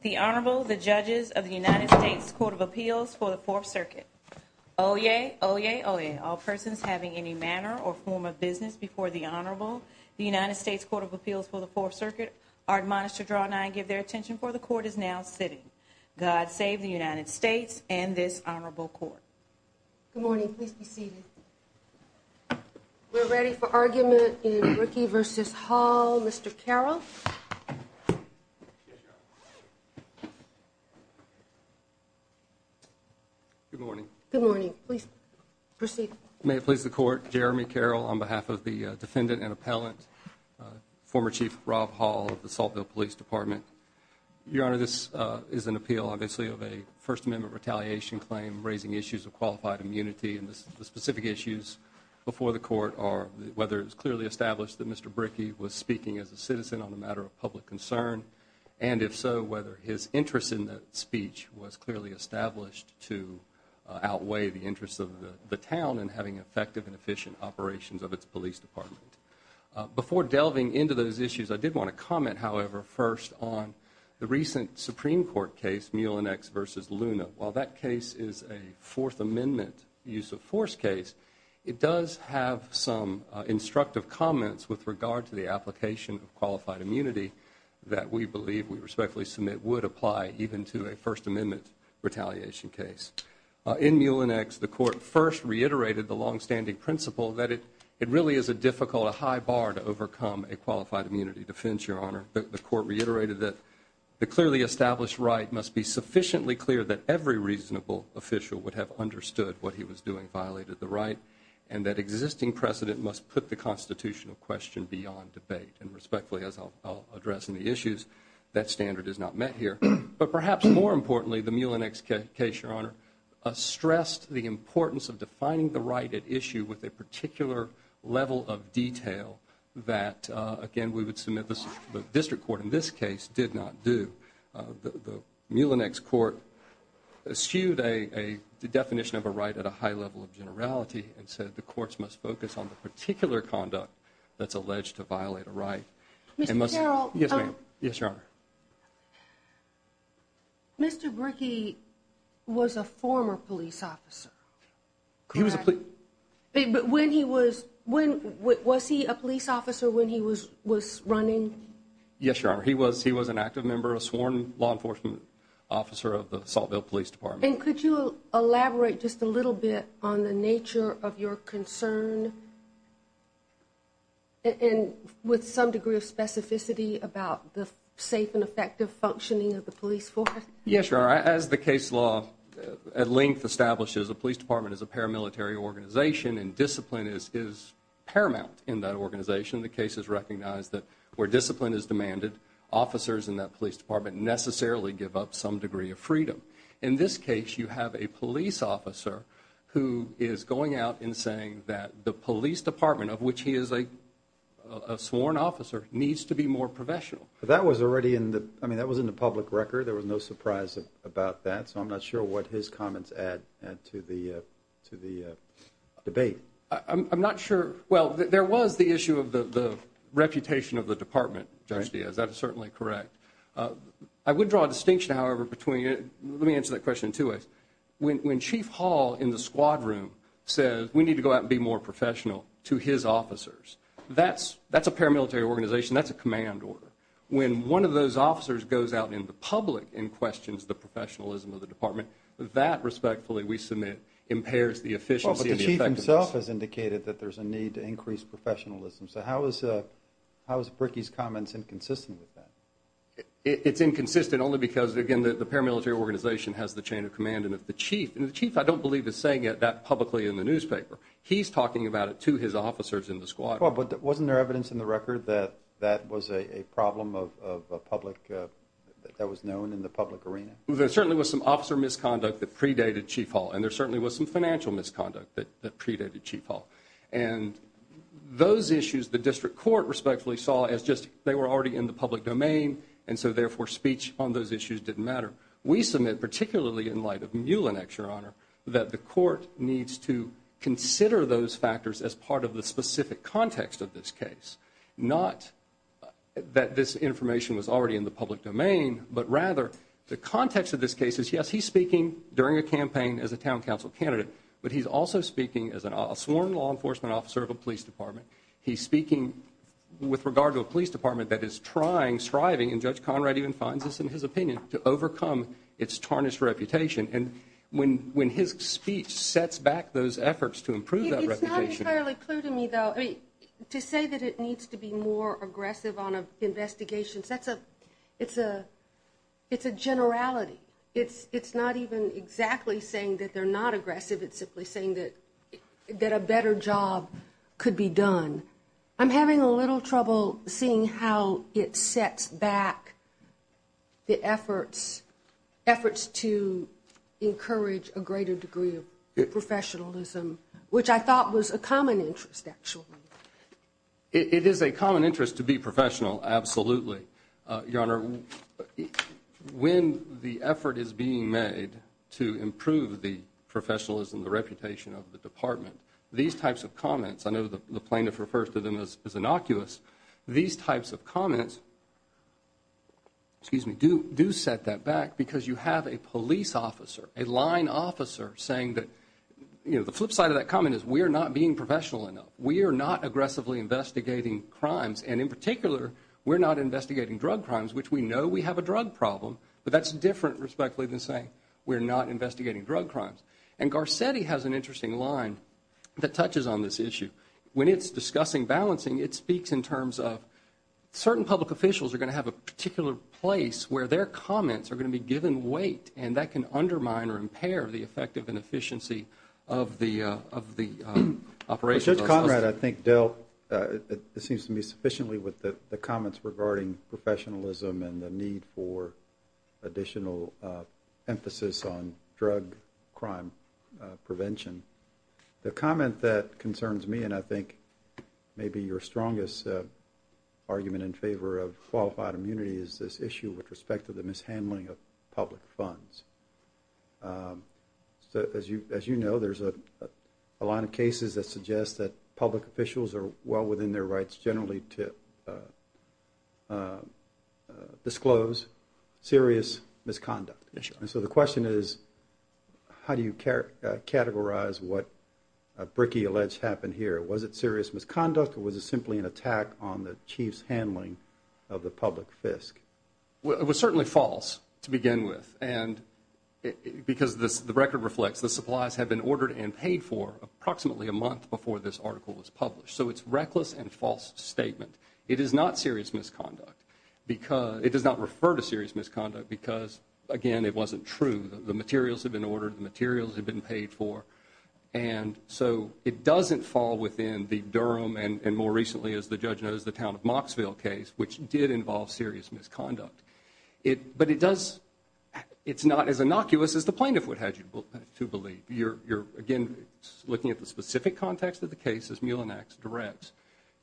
The Honorable, the Judges of the United States Court of Appeals for the Fourth Circuit. Oyez! Oyez! Oyez! All persons having any manner or form of business before the Honorable, the United States Court of Appeals for the Fourth Circuit, are admonished to draw nigh and give their attention, for the Court is now sitting. God save the United States and this Honorable Court. Good morning. Please be seated. We're ready for argument in Brickey v. Hall. Mr. Carroll. Good morning. Good morning. Please proceed. May it please the Court, Jeremy Carroll on behalf of the defendant and appellant, former Chief Robb Hall of the Saltville Police Department. Your Honor, this is an appeal, obviously, of a First Amendment retaliation claim, raising issues of qualified immunity. And the specific issues before the Court are whether it's clearly established that Mr. Brickey was speaking as a citizen on a matter of public concern. And if so, whether his interest in that speech was clearly established to outweigh the interests of the town in having effective and efficient operations of its police department. Before delving into those issues, I did want to comment, however, first on the recent Supreme Court case, Mulinex v. Luna. While that case is a Fourth Amendment use of force case, it does have some instructive comments with regard to the application of qualified immunity that we believe, we respectfully submit, would apply even to a First Amendment retaliation case. In Mulinex, the Court first reiterated the longstanding principle that it really is a difficult, a high bar to overcome a qualified immunity defense, Your Honor. The Court reiterated that the clearly established right must be sufficiently clear that every reasonable official would have understood what he was doing violated the right, and that existing precedent must put the constitutional question beyond debate. And respectfully, as I'll address in the issues, that standard is not met here. But perhaps more importantly, the Mulinex case, Your Honor, stressed the importance of defining the right at issue with a particular level of detail that, again, we would submit the district court in this case did not do. The Mulinex court eschewed a definition of a right at a high level of generality and said the courts must focus on the particular conduct that's alleged to violate a right. Mr. Carroll. Yes, ma'am. Yes, Your Honor. Mr. Brickey was a former police officer. He was a police. But when he was, was he a police officer when he was running? Yes, Your Honor. He was an active member, a sworn law enforcement officer of the Saltville Police Department. And could you elaborate just a little bit on the nature of your concern and with some degree of specificity about the safe and effective functioning of the police force? Yes, Your Honor. As the case law at length establishes, a police department is a paramilitary organization, and discipline is paramount in that organization. The case has recognized that where discipline is demanded, officers in that police department necessarily give up some degree of freedom. In this case, you have a police officer who is going out and saying that the police department, of which he is a sworn officer, needs to be more professional. That was already in the, I mean, that was in the public record. There was no surprise about that. So I'm not sure what his comments add to the debate. I'm not sure. Well, there was the issue of the reputation of the department, Judge Diaz. That is certainly correct. I would draw a distinction, however, between, let me answer that question in two ways. When Chief Hall in the squad room says we need to go out and be more professional to his officers, that's a paramilitary organization. That's a command order. When one of those officers goes out in the public and questions the professionalism of the department, that, respectfully, we submit impairs the efficiency and the effectiveness. Well, but the chief himself has indicated that there's a need to increase professionalism. So how is Bricky's comments inconsistent with that? It's inconsistent only because, again, the paramilitary organization has the chain of command. And if the chief, and the chief I don't believe is saying it that publicly in the newspaper. He's talking about it to his officers in the squad. Well, but wasn't there evidence in the record that that was a problem of a public, that was known in the public arena? There certainly was some officer misconduct that predated Chief Hall. And there certainly was some financial misconduct that predated Chief Hall. And those issues the district court, respectfully, saw as just they were already in the public domain. And so, therefore, speech on those issues didn't matter. We submit, particularly in light of Muellen, Your Honor, that the court needs to consider those factors as part of the specific context of this case. Not that this information was already in the public domain, but rather the context of this case is, yes, he's speaking during a campaign as a town council candidate. But he's also speaking as a sworn law enforcement officer of a police department. He's speaking with regard to a police department that is trying, striving, and Judge Conrad even finds this in his opinion, to overcome its tarnished reputation. And when his speech sets back those efforts to improve that reputation. It's not entirely clear to me, though. To say that it needs to be more aggressive on investigations, that's a, it's a, it's a generality. It's, it's not even exactly saying that they're not aggressive. It's simply saying that, that a better job could be done. I'm having a little trouble seeing how it sets back the efforts, efforts to encourage a greater degree of professionalism. Which I thought was a common interest, actually. It is a common interest to be professional, absolutely. Your Honor, when the effort is being made to improve the professionalism, the reputation of the department. These types of comments, I know the plaintiff refers to them as innocuous. These types of comments, excuse me, do, do set that back. Because you have a police officer, a line officer saying that, you know, the flip side of that comment is we are not being professional enough. We are not aggressively investigating crimes. And in particular, we're not investigating drug crimes, which we know we have a drug problem. But that's different, respectfully, than saying we're not investigating drug crimes. And Garcetti has an interesting line that touches on this issue. When it's discussing balancing, it speaks in terms of certain public officials are going to have a particular place where their comments are going to be given weight. And that can undermine or impair the effective and efficiency of the, of the operation. Judge Conrad, I think, dealt, it seems to me, sufficiently with the comments regarding professionalism and the need for additional emphasis on drug crime prevention. The comment that concerns me, and I think may be your strongest argument in favor of qualified immunity, is this issue with respect to the mishandling of public funds. As you know, there's a line of cases that suggest that public officials are well within their rights generally to disclose serious misconduct. And so the question is, how do you categorize what Bricky alleged happened here? Was it serious misconduct or was it simply an attack on the chief's handling of the public fisc? Well, it was certainly false to begin with. And because the record reflects, the supplies had been ordered and paid for approximately a month before this article was published. So it's a reckless and false statement. It is not serious misconduct because, it does not refer to serious misconduct because, again, it wasn't true. The materials had been ordered, the materials had been paid for. And so it doesn't fall within the Durham and more recently, as the judge knows, the town of Mocksville case, which did involve serious misconduct. But it does, it's not as innocuous as the plaintiff would have you to believe. You're, again, looking at the specific context of the case as Mulinax directs.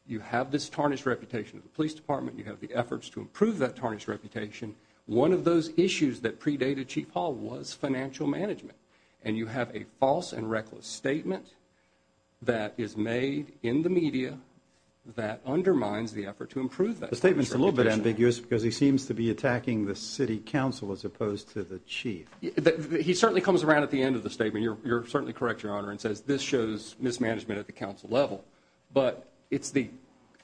You have this tarnished reputation of the police department. You have the efforts to improve that tarnished reputation. One of those issues that predated Chief Hall was financial management. And you have a false and reckless statement that is made in the media that undermines the effort to improve that. The statement's a little bit ambiguous because he seems to be attacking the city council as opposed to the chief. He certainly comes around at the end of the statement. You're certainly correct, Your Honor, and says this shows mismanagement at the council level. But it's the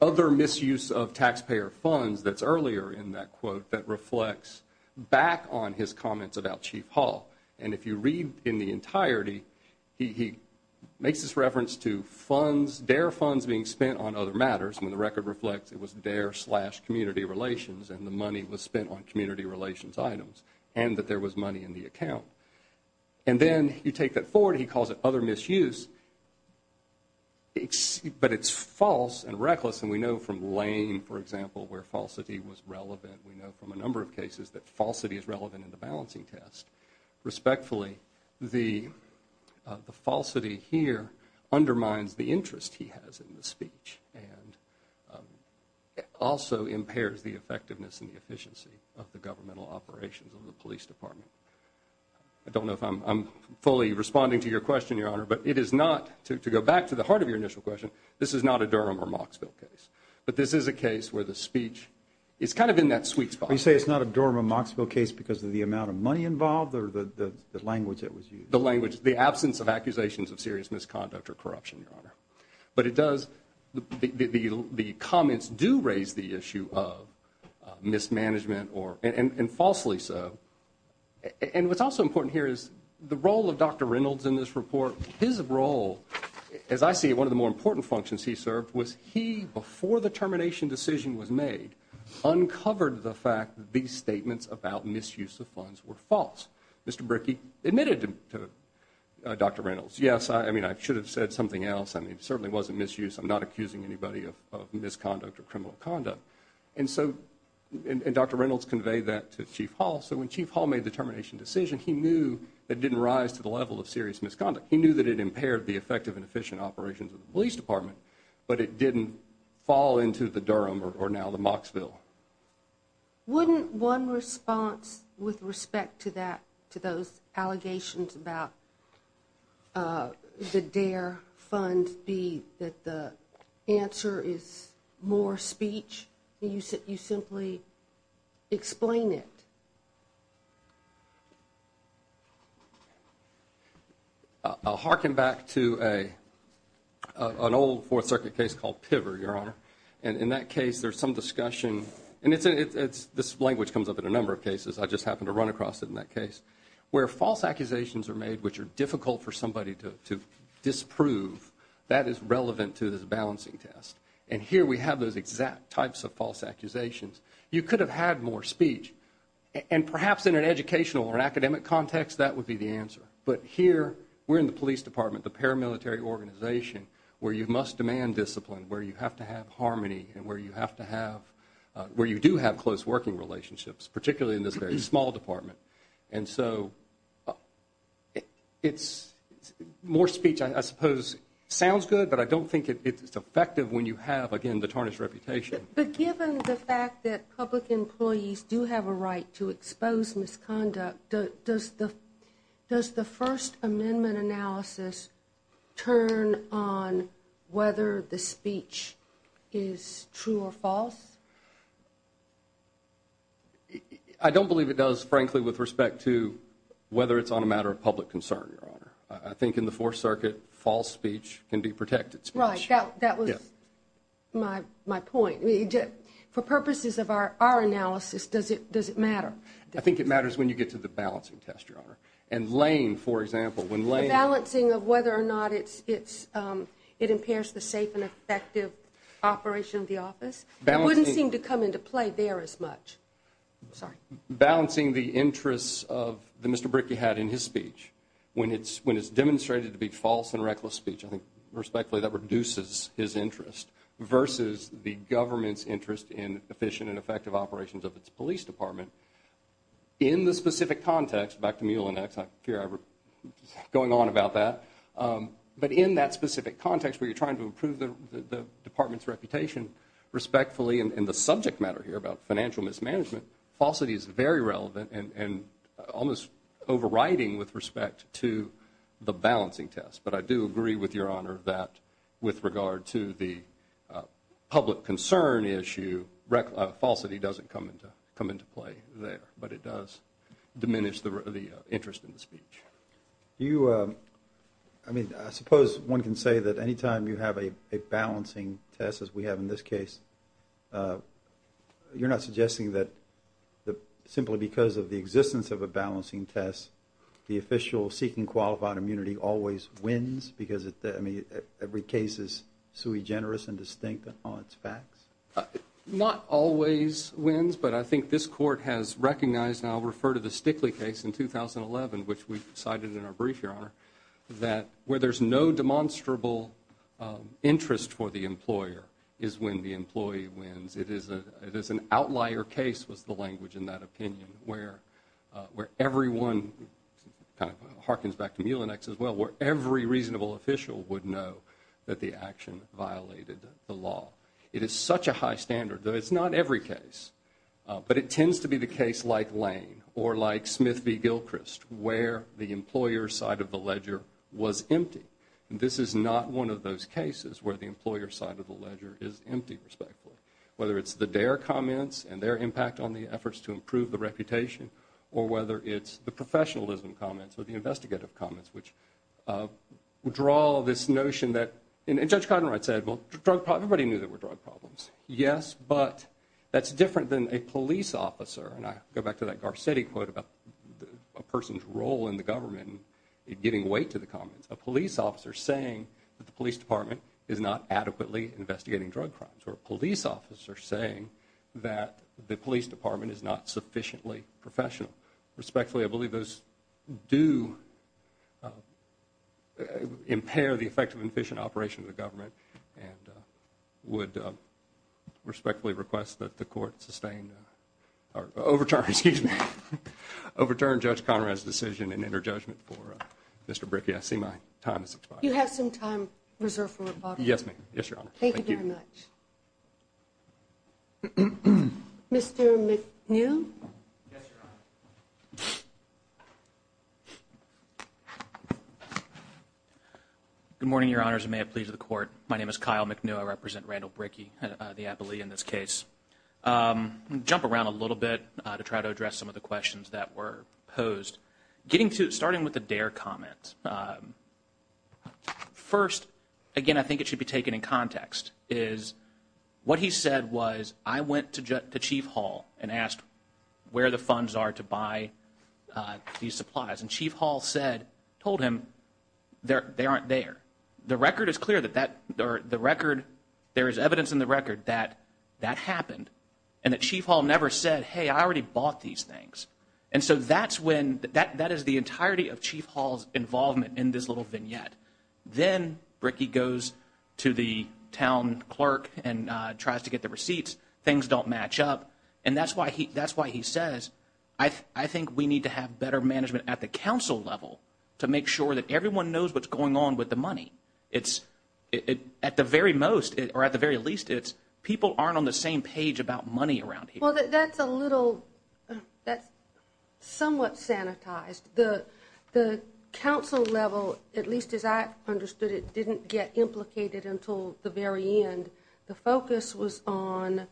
other misuse of taxpayer funds that's earlier in that quote that reflects back on his comments about Chief Hall. And if you read in the entirety, he makes this reference to funds, their funds being spent on other matters when the record reflects it was their slash community relations and the money was spent on community relations items and that there was money in the account. And then you take that forward and he calls it other misuse, but it's false and reckless. And we know from Lane, for example, where falsity was relevant. We know from a number of cases that falsity is relevant in the balancing test. Respectfully, the falsity here undermines the interest he has in the speech and also impairs the effectiveness and the efficiency of the governmental operations of the police department. I don't know if I'm fully responding to your question, Your Honor, but it is not, to go back to the heart of your initial question, this is not a Durham or Mocksville case, but this is a case where the speech is kind of in that sweet spot. You say it's not a Durham or Mocksville case because of the amount of money involved or the language that was used? The language, the absence of accusations of serious misconduct or corruption, Your Honor. But it does, the comments do raise the issue of mismanagement and falsely so. And what's also important here is the role of Dr. Reynolds in this report. His role, as I see it, one of the more important functions he served was he, before the termination decision was made, uncovered the fact that these statements about misuse of funds were false. Mr. Brickey admitted to Dr. Reynolds, yes, I mean, I should have said something else. I mean, it certainly wasn't misuse. I'm not accusing anybody of misconduct or criminal conduct. And so, and Dr. Reynolds conveyed that to Chief Hall. So when Chief Hall made the termination decision, he knew it didn't rise to the level of serious misconduct. He knew that it impaired the effective and efficient operations of the police department, but it didn't fall into the Durham or now the Mocksville. Wouldn't one response with respect to that, to those allegations about the DARE fund be that the answer is more speech? You simply explain it. I'll harken back to an old Fourth Circuit case called Piver, Your Honor. And in that case, there's some discussion, and this language comes up in a number of cases. I just happened to run across it in that case. Where false accusations are made which are difficult for somebody to disprove, that is relevant to this balancing test. And here we have those exact types of false accusations. You could have had more speech. And perhaps in an educational or academic context, that would be the answer. But here, we're in the police department, the paramilitary organization, where you must demand discipline, where you have to have harmony, and where you have to have, where you do have close working relationships, particularly in this very small department. And so more speech, I suppose, sounds good, but I don't think it's effective when you have, again, the tarnished reputation. But given the fact that public employees do have a right to expose misconduct, does the First Amendment analysis turn on whether the speech is true or false? I don't believe it does, frankly, with respect to whether it's on a matter of public concern, Your Honor. I think in the Fourth Circuit, false speech can be protected speech. Right. That was my point. For purposes of our analysis, does it matter? I think it matters when you get to the balancing test, Your Honor. And Lane, for example, when Lane – The balancing of whether or not it impairs the safe and effective operation of the office? That wouldn't seem to come into play there as much. Sorry. Balancing the interests of the Mr. Bricky had in his speech. When it's demonstrated to be false and reckless speech, I think, respectfully, that reduces his interest, versus the government's interest in efficient and effective operations of its police department. In the specific context, back to Mule and Axe, I fear I'm going on about that, but in that specific context where you're trying to improve the department's reputation respectfully, and the subject matter here about financial mismanagement, falsity is very relevant and almost overriding with respect to the balancing test. But I do agree with Your Honor that with regard to the public concern issue, falsity doesn't come into play there, but it does diminish the interest in the speech. You – I mean, I suppose one can say that any time you have a balancing test, as we have in this case, you're not suggesting that simply because of the existence of a balancing test, the official seeking qualified immunity always wins because, I mean, every case is sui generis and distinct on its facts? Not always wins, but I think this Court has recognized, and I'll refer to the Stickley case in 2011, which we cited in our brief, Your Honor, that where there's no demonstrable interest for the employer is when the employee wins. It is an outlier case, was the language in that opinion, where everyone – kind of harkens back to Mule and Axe as well – where every reasonable official would know that the action violated the law. It is such a high standard, though it's not every case, but it tends to be the case like Lane or like Smith v. Gilchrist where the employer's side of the ledger was empty. And this is not one of those cases where the employer's side of the ledger is empty, respectfully, whether it's the DARE comments and their impact on the efforts to improve the reputation or whether it's the professionalism comments or the investigative comments, which draw this notion that – and Judge Cottenright said, well, everybody knew there were drug problems. Yes, but that's different than a police officer – and I go back to that Garcetti quote about a person's role in the government in giving weight to the comments – a police officer saying that the police department is not adequately investigating drug crimes or a police officer saying that the police department is not sufficiently professional. Respectfully, I believe those do impair the effective and efficient operation of the government and would respectfully request that the Court overturn Judge Cottenright's decision and enter judgment for Mr. Bricky. I see my time has expired. Do you have some time reserved for rebuttal? Yes, ma'am. Yes, Your Honor. Thank you very much. Mr. McNeil? Yes, Your Honor. Good morning, Your Honors, and may it please the Court. My name is Kyle McNeil. I represent Randall Bricky, the appellee in this case. I'm going to jump around a little bit to try to address some of the questions that were posed, starting with the Dare comment. First, again, I think it should be taken in context, is what he said was, I went to Chief Hall and asked where the funds are to buy these supplies, and Chief Hall said, told him, they aren't there. The record is clear that that, or the record, there is evidence in the record that that happened, and that Chief Hall never said, hey, I already bought these things. And so that's when, that is the entirety of Chief Hall's involvement in this little vignette. Then Bricky goes to the town clerk and tries to get the receipts. Things don't match up. And that's why he says, I think we need to have better management at the council level to make sure that everyone knows what's going on with the money. At the very most, or at the very least, people aren't on the same page about money around here. Well, that's a little, that's somewhat sanitized. The council level, at least as I understood it, didn't get implicated until the very end. The focus was on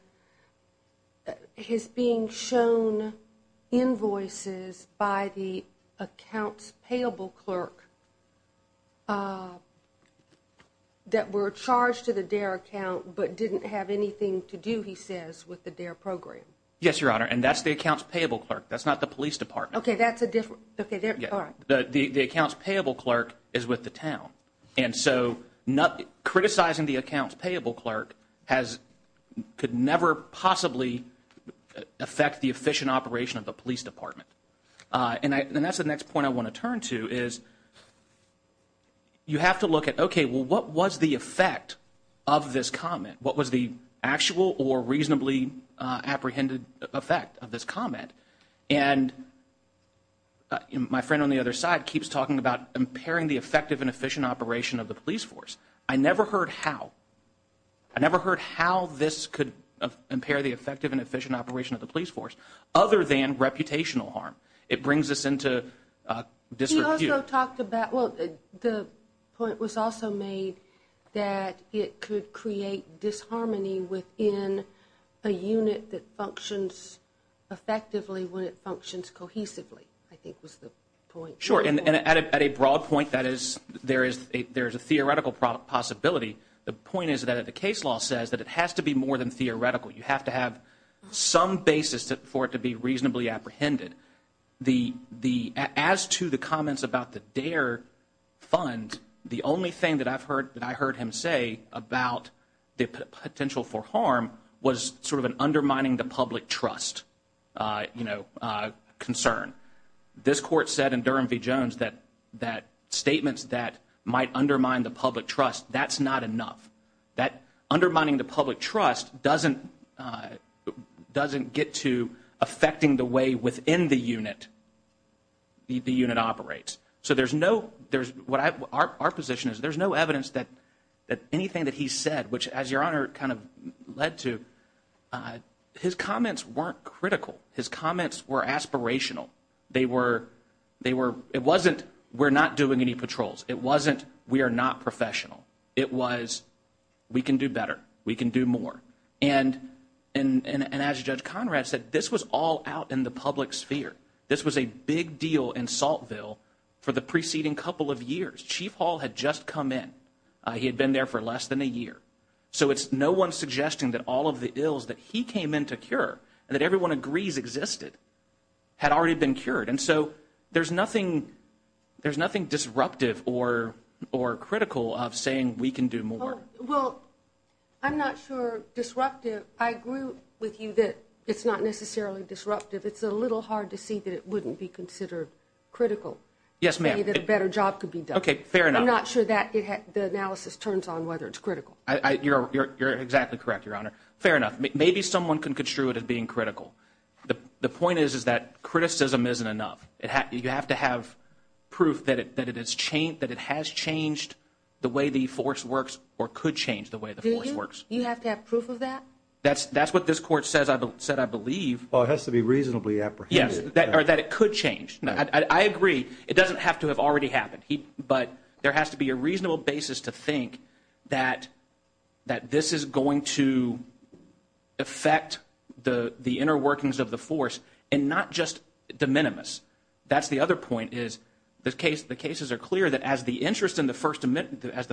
his being shown invoices by the accounts payable clerk that were charged to the DARE account but didn't have anything to do, he says, with the DARE program. Yes, Your Honor, and that's the accounts payable clerk. That's not the police department. Okay, that's a different, okay, all right. The accounts payable clerk is with the town. And so criticizing the accounts payable clerk could never possibly affect the efficient operation of the police department. And that's the next point I want to turn to is you have to look at, okay, well, what was the effect of this comment? What was the actual or reasonably apprehended effect of this comment? And my friend on the other side keeps talking about impairing the effective and efficient operation of the police force. I never heard how. I never heard how this could impair the effective and efficient operation of the police force other than reputational harm. It brings us into disrepute. Well, the point was also made that it could create disharmony within a unit that functions effectively when it functions cohesively, I think was the point. Sure, and at a broad point, that is, there is a theoretical possibility. The point is that the case law says that it has to be more than theoretical. You have to have some basis for it to be reasonably apprehended. And as to the comments about the DARE fund, the only thing that I heard him say about the potential for harm was sort of an undermining the public trust, you know, concern. This court said in Durham v. Jones that statements that might undermine the public trust, that's not enough. That undermining the public trust doesn't get to affecting the way within the unit the unit operates. So there's no, what our position is, there's no evidence that anything that he said, which as Your Honor kind of led to, his comments weren't critical. His comments were aspirational. They were, it wasn't we're not doing any patrols. It wasn't we are not professional. It was we can do better. We can do more. And as Judge Conrad said, this was all out in the public sphere. This was a big deal in Saltville for the preceding couple of years. Chief Hall had just come in. He had been there for less than a year. So it's no one suggesting that all of the ills that he came in to cure and that everyone agrees existed had already been cured. And so there's nothing, there's nothing disruptive or critical of saying we can do more. Well, I'm not sure disruptive. I agree with you that it's not necessarily disruptive. It's a little hard to see that it wouldn't be considered critical. Yes, ma'am. Maybe a better job could be done. Okay, fair enough. I'm not sure that the analysis turns on whether it's critical. You're exactly correct, Your Honor. Fair enough. Maybe someone can construe it as being critical. The point is, is that criticism isn't enough. You have to have proof that it has changed the way the force works or could change the way the force works. You have to have proof of that? That's what this Court said I believe. Well, it has to be reasonably apprehended. Yes, or that it could change. I agree. It doesn't have to have already happened. But there has to be a reasonable basis to think that this is going to affect the inner workings of the force and not just de minimis. That's the other point is the cases are clear that as the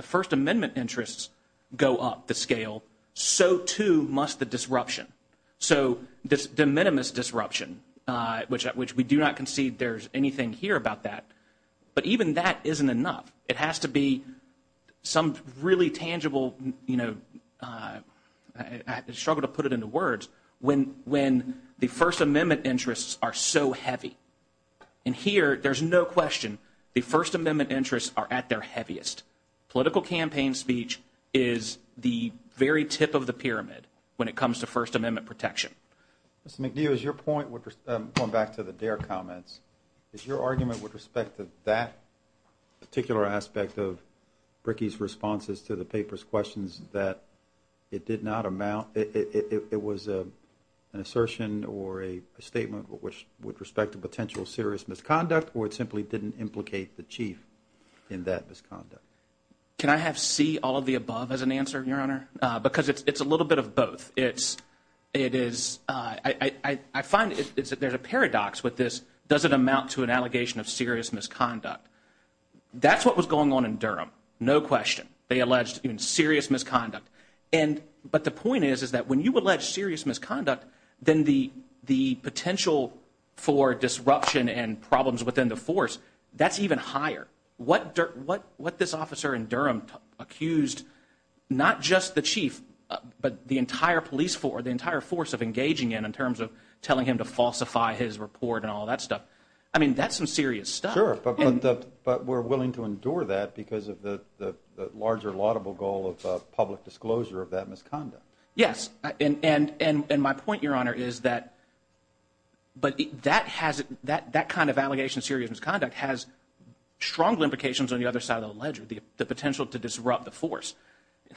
First Amendment interests go up the scale, so too must the disruption. So this de minimis disruption, which we do not concede there's anything here about that, but even that isn't enough. It has to be some really tangible, you know, I struggle to put it into words, when the First Amendment interests are so heavy. And here there's no question the First Amendment interests are at their heaviest. Political campaign speech is the very tip of the pyramid when it comes to First Amendment protection. Mr. McNeil, is your point, going back to the Dare comments, is your argument with respect to that particular aspect of Brickey's responses to the paper's questions that it did not amount, it was an assertion or a statement with respect to potential serious misconduct, or it simply didn't implicate the chief in that misconduct? Can I have C, all of the above, as an answer, Your Honor? Because it's a little bit of both. It is, I find there's a paradox with this. Does it amount to an allegation of serious misconduct? That's what was going on in Durham, no question. They alleged serious misconduct. But the point is, is that when you allege serious misconduct, then the potential for disruption and problems within the force, that's even higher. What this officer in Durham accused not just the chief, but the entire police force, the entire force of engaging in, in terms of telling him to falsify his report and all that stuff, I mean, that's some serious stuff. Sure, but we're willing to endure that because of the larger laudable goal of public disclosure of that misconduct. Yes, and my point, Your Honor, is that, but that kind of allegation of serious misconduct has strong implications on the other side of the ledger, the potential to disrupt the force.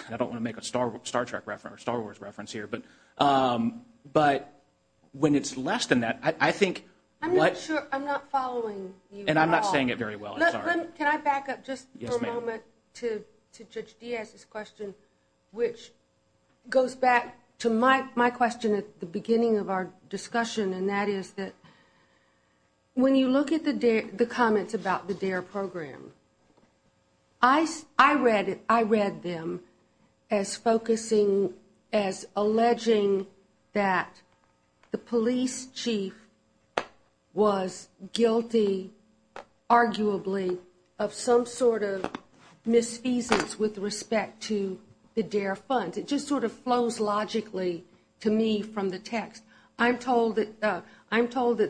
I don't want to make a Star Trek reference or Star Wars reference here, but when it's less than that, I think what- I'm not following you at all. And I'm not saying it very well, I'm sorry. Can I back up just for a moment to Judge Diaz's question, which goes back to my question at the beginning of our discussion, and that is that when you look at the comments about the D.A.R.E. program, I read them as focusing, as alleging that the police chief was guilty, arguably, of some sort of misfeasance with respect to the D.A.R.E. funds. It just sort of flows logically to me from the text. I'm told that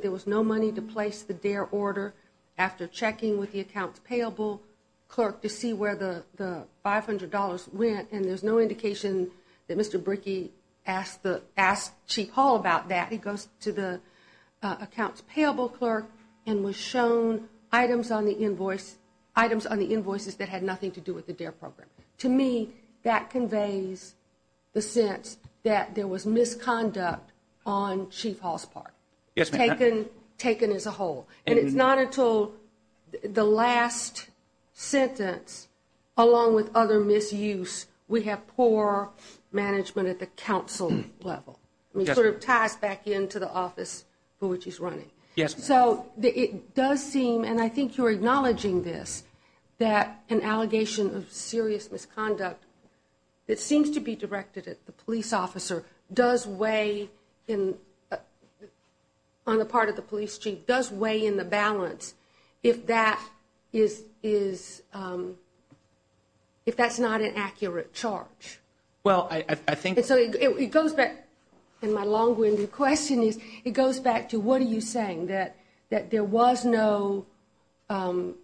there was no money to place the D.A.R.E. order after checking with the accounts payable clerk to see where the $500 went, and there's no indication that Mr. Bricky asked Chief Hall about that. He goes to the accounts payable clerk and was shown items on the invoices that had nothing to do with the D.A.R.E. program. To me, that conveys the sense that there was misconduct on Chief Hall's part, taken as a whole. And it's not until the last sentence, along with other misuse, we have poor management at the council level. It sort of ties back into the office for which he's running. So it does seem, and I think you're acknowledging this, that an allegation of serious misconduct, it seems to be directed at the police officer, does weigh on the part of the police chief, does weigh in the balance if that's not an accurate charge. And so it goes back, and my long-winded question is, it goes back to what are you saying, that there wasn't an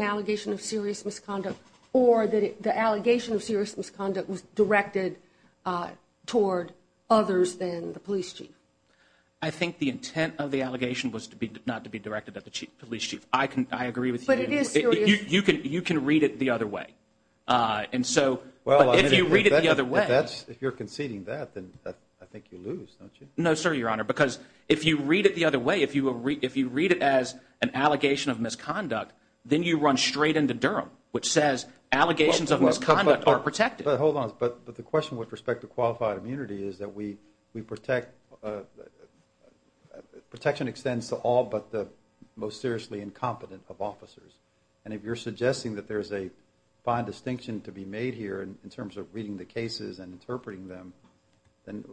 allegation of serious misconduct, or that the allegation of serious misconduct was directed toward others than the police chief? I think the intent of the allegation was not to be directed at the police chief. I agree with you. But it is serious. You can read it the other way. And so if you read it the other way. If you're conceding that, then I think you lose, don't you? No, sir, Your Honor, because if you read it the other way, if you read it as an allegation of misconduct, then you run straight into Durham, which says allegations of misconduct are protected. Hold on, but the question with respect to qualified immunity is that we protect, protection extends to all but the most seriously incompetent of officers. And if you're suggesting that there's a fine distinction to be made here in terms of reading the cases and interpreting them, then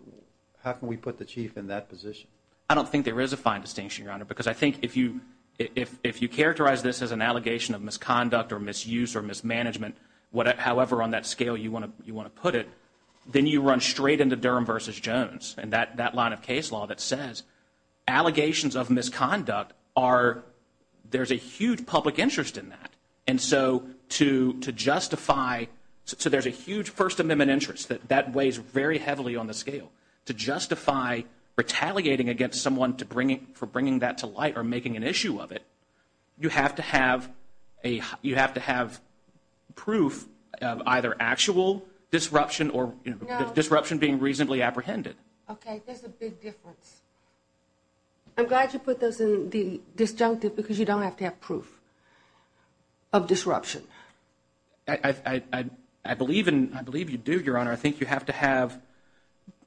how can we put the chief in that position? I don't think there is a fine distinction, Your Honor, because I think if you characterize this as an allegation of misconduct or misuse or mismanagement, however on that scale you want to put it, then you run straight into Durham v. Jones and that line of case law that says allegations of misconduct are, there's a huge public interest in that. And so to justify, so there's a huge First Amendment interest. That weighs very heavily on the scale. To justify retaliating against someone for bringing that to light or making an issue of it, you have to have proof of either actual disruption or disruption being reasonably apprehended. Okay, there's a big difference. I'm glad you put those in the disjunctive because you don't have to have proof of disruption. I believe you do, Your Honor. I think you have to have,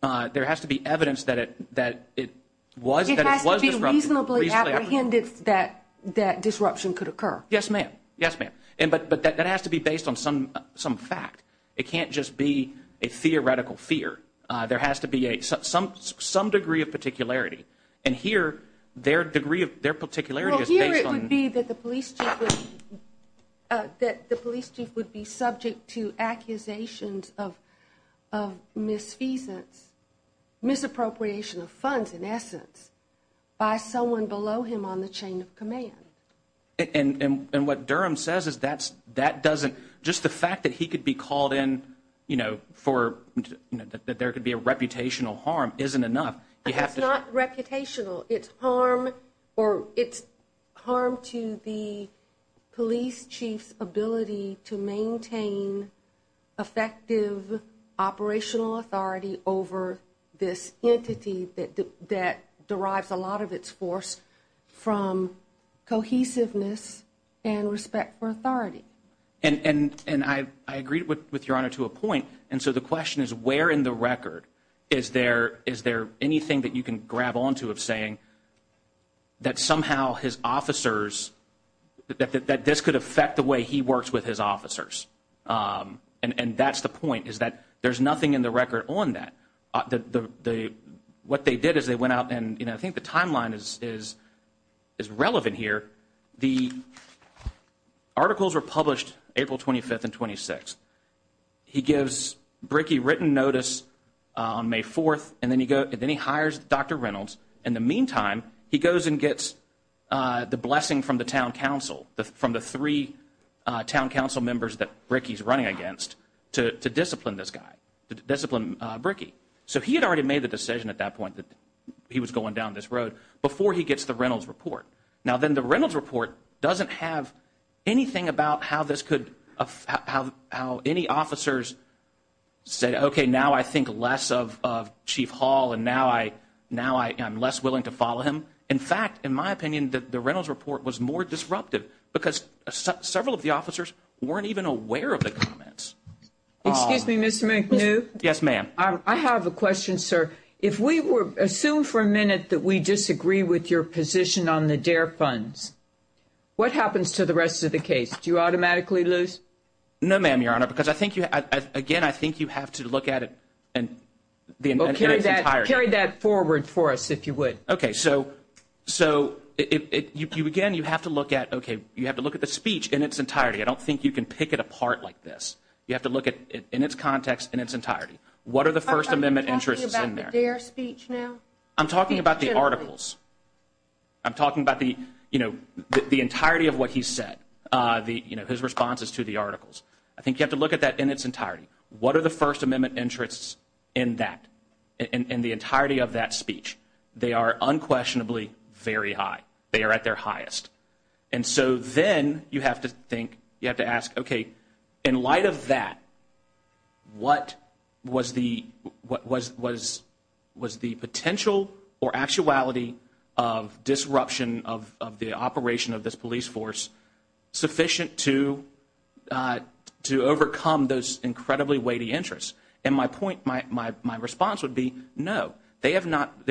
there has to be evidence that it was disruption. It was reasonably apprehended that disruption could occur. Yes, ma'am. Yes, ma'am. But that has to be based on some fact. It can't just be a theoretical fear. There has to be some degree of particularity. And here, their degree of particularity is based on Well, here it would be that the police chief would be subject to accusations of misfeasance, misappropriation of funds, in essence, by someone below him on the chain of command. And what Durham says is that doesn't, just the fact that he could be called in for, that there could be a reputational harm isn't enough. It's not reputational. It's harm or it's harm to the police chief's ability to maintain effective operational authority over this entity that derives a lot of its force from cohesiveness and respect for authority. And I agree with Your Honor to a point. And so the question is where in the record is there anything that you can grab onto of saying that somehow his officers, that this could affect the way he works with his officers. And that's the point is that there's nothing in the record on that. What they did is they went out and, you know, I think the timeline is relevant here. The articles were published April 25th and 26th. He gives Bricky written notice on May 4th and then he hires Dr. Reynolds. In the meantime, he goes and gets the blessing from the town council, from the three town council members that Bricky's running against to discipline this guy, discipline Bricky. So he had already made the decision at that point that he was going down this road before he gets the Reynolds report. Now, then the Reynolds report doesn't have anything about how this could, how any officers say, okay, now I think less of Chief Hall and now I'm less willing to follow him. In fact, in my opinion, the Reynolds report was more disruptive because several of the officers weren't even aware of the comments. Excuse me, Mr. McNew. I have a question, sir. If we assume for a minute that we disagree with your position on the DARE funds, what happens to the rest of the case? Do you automatically lose? No, ma'am, Your Honor, because, again, I think you have to look at it in its entirety. Carry that forward for us, if you would. Okay. So, again, you have to look at, okay, you have to look at the speech in its entirety. I don't think you can pick it apart like this. You have to look at it in its context, in its entirety. What are the First Amendment interests in there? Are you talking about the DARE speech now? I'm talking about the articles. I'm talking about the entirety of what he said, his responses to the articles. I think you have to look at that in its entirety. What are the First Amendment interests in that, in the entirety of that speech? They are unquestionably very high. They are at their highest. And so then you have to think, you have to ask, okay, in light of that, what was the potential or actuality of disruption of the operation of this police force sufficient to overcome those incredibly weighty interests? And my point, my response would be no. There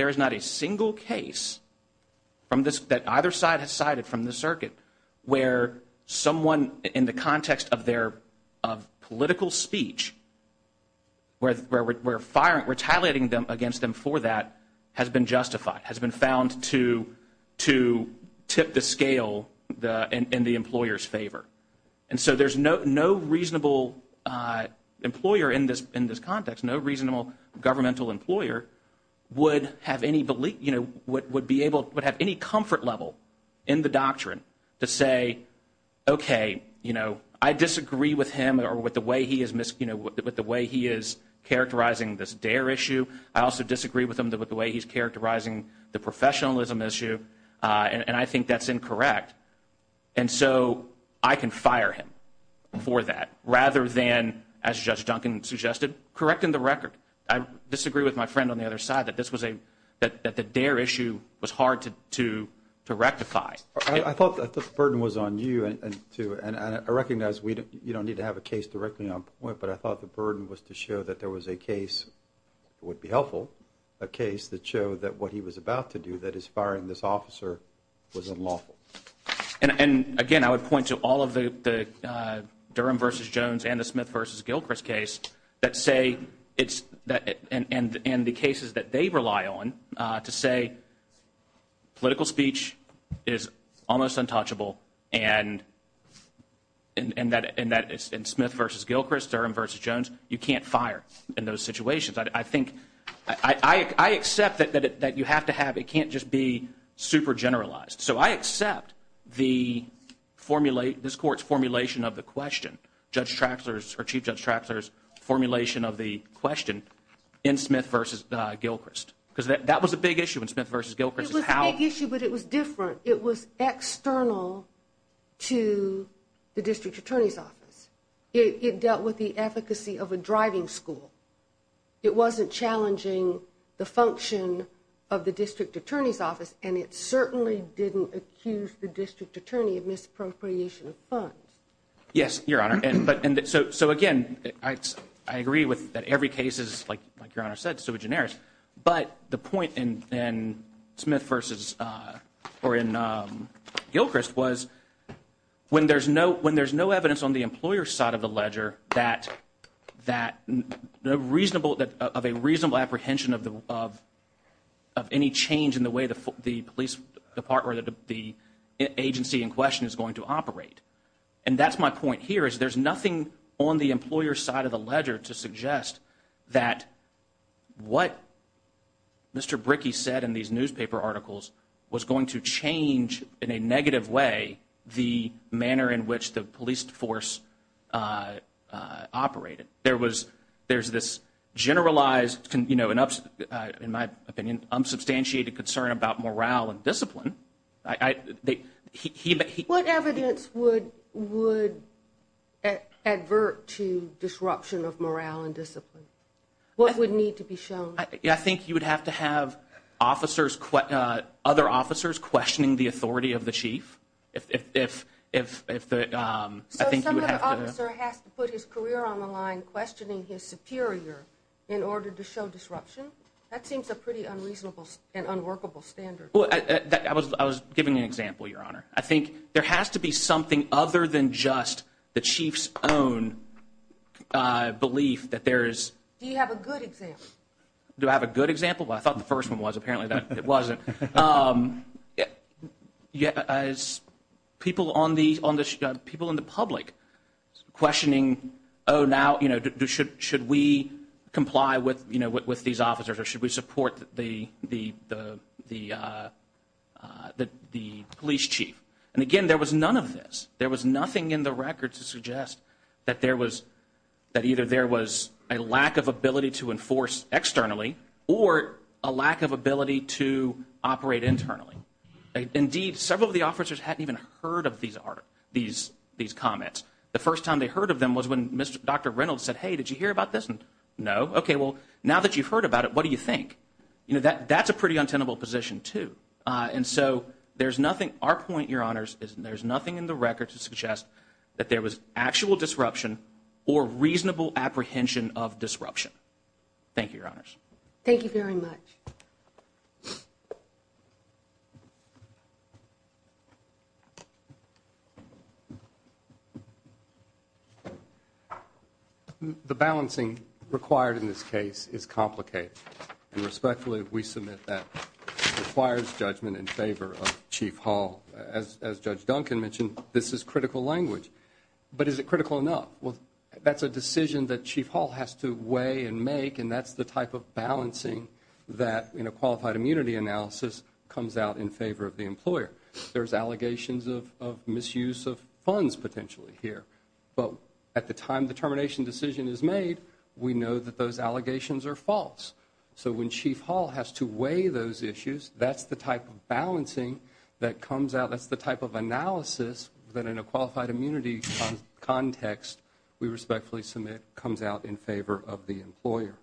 is not a single case that either side has cited from the circuit where someone, in the context of political speech, where retaliating against them for that has been justified, has been found to tip the scale in the employer's favor. And so there's no reasonable employer in this context, no reasonable governmental employer would have any belief, would have any comfort level in the doctrine to say, okay, I disagree with him or with the way he is characterizing this DARE issue. I also disagree with him with the way he's characterizing the professionalism issue, and I think that's incorrect. And so I can fire him for that rather than, as Judge Duncan suggested, correcting the record. I disagree with my friend on the other side that this was a, that the DARE issue was hard to rectify. I thought the burden was on you, and I recognize you don't need to have a case directly on point, but I thought the burden was to show that there was a case, it would be helpful, a case that showed that what he was about to do, that is firing this officer, was unlawful. And again, I would point to all of the Durham v. Jones and the Smith v. Gilchrist case that say it's, and the cases that they rely on to say political speech is almost untouchable, and that in Smith v. Gilchrist, Durham v. Jones, you can't fire in those situations. I think, I accept that you have to have, it can't just be super generalized. So I accept this court's formulation of the question, Judge Traxler's, or Chief Judge Traxler's formulation of the question in Smith v. Gilchrist, because that was a big issue in Smith v. Gilchrist. It was a big issue, but it was different. It was external to the district attorney's office. It dealt with the efficacy of a driving school. It wasn't challenging the function of the district attorney's office, and it certainly didn't accuse the district attorney of misappropriation of funds. Yes, Your Honor. So again, I agree that every case is, like Your Honor said, super generous, but the point in Smith v. or in Gilchrist was when there's no evidence on the employer's side of the ledger that a reasonable apprehension of any change in the way the police department or the agency in question is going to operate, and that's my point here is there's nothing on the employer's side of the ledger to suggest that what Mr. Brickey said in these newspaper articles was going to change, in a negative way, the manner in which the police force operated. There's this generalized, in my opinion, unsubstantiated concern about morale and discipline. What evidence would advert to disruption of morale and discipline? What would need to be shown? I think you would have to have other officers questioning the authority of the chief. So some other officer has to put his career on the line, questioning his superior in order to show disruption? That seems a pretty unreasonable and unworkable standard. Well, I was giving an example, Your Honor. I think there has to be something other than just the chief's own belief that there is. Do you have a good example? Do I have a good example? Well, I thought the first one was. Apparently it wasn't. As people in the public questioning, oh, now, should we comply with these officers or should we support the police chief? And again, there was none of this. There was nothing in the record to suggest that either there was a lack of ability to enforce externally or a lack of ability to operate internally. Indeed, several of the officers hadn't even heard of these comments. The first time they heard of them was when Dr. Reynolds said, hey, did you hear about this? No. Okay, well, now that you've heard about it, what do you think? That's a pretty untenable position, too. And so there's nothing, our point, Your Honors, is there's nothing in the record to suggest that there was actual disruption or reasonable apprehension of disruption. Thank you, Your Honors. Thank you very much. Thank you. The balancing required in this case is complicated. And respectfully, we submit that requires judgment in favor of Chief Hall. As Judge Duncan mentioned, this is critical language. But is it critical enough? Well, that's a decision that Chief Hall has to weigh and make, and that's the type of balancing that, in a qualified immunity analysis, comes out in favor of the employer. There's allegations of misuse of funds, potentially, here. But at the time the termination decision is made, we know that those allegations are false. So when Chief Hall has to weigh those issues, that's the type of balancing that comes out, that's the type of analysis that, in a qualified immunity context, we respectfully submit comes out in favor of the employer.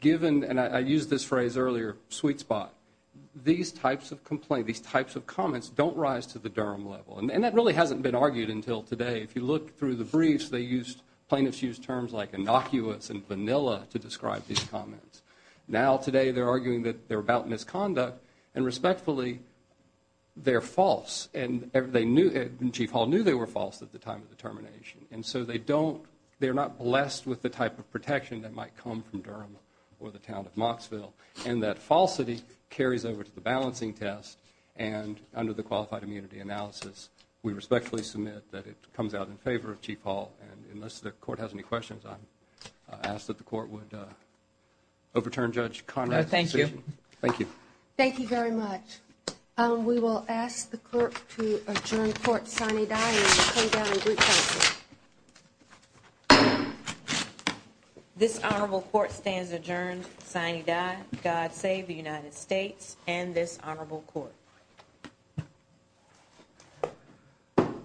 Given, and I used this phrase earlier, sweet spot, these types of comments don't rise to the Durham level. And that really hasn't been argued until today. If you look through the briefs, plaintiffs use terms like innocuous and vanilla to describe these comments. Now, today, they're arguing that they're about misconduct, and respectfully, they're false. And Chief Hall knew they were false at the time of the termination. And so they're not blessed with the type of protection that might come from Durham or the town of Mocksville. And that falsity carries over to the balancing test, and under the qualified immunity analysis, we respectfully submit that it comes out in favor of Chief Hall. And unless the Court has any questions, I ask that the Court would overturn Judge Conrad's decision. Thank you. Thank you very much. We will ask the Clerk to adjourn Court sine die and come down in group silence. This Honorable Court stands adjourned sine die. God save the United States and this Honorable Court.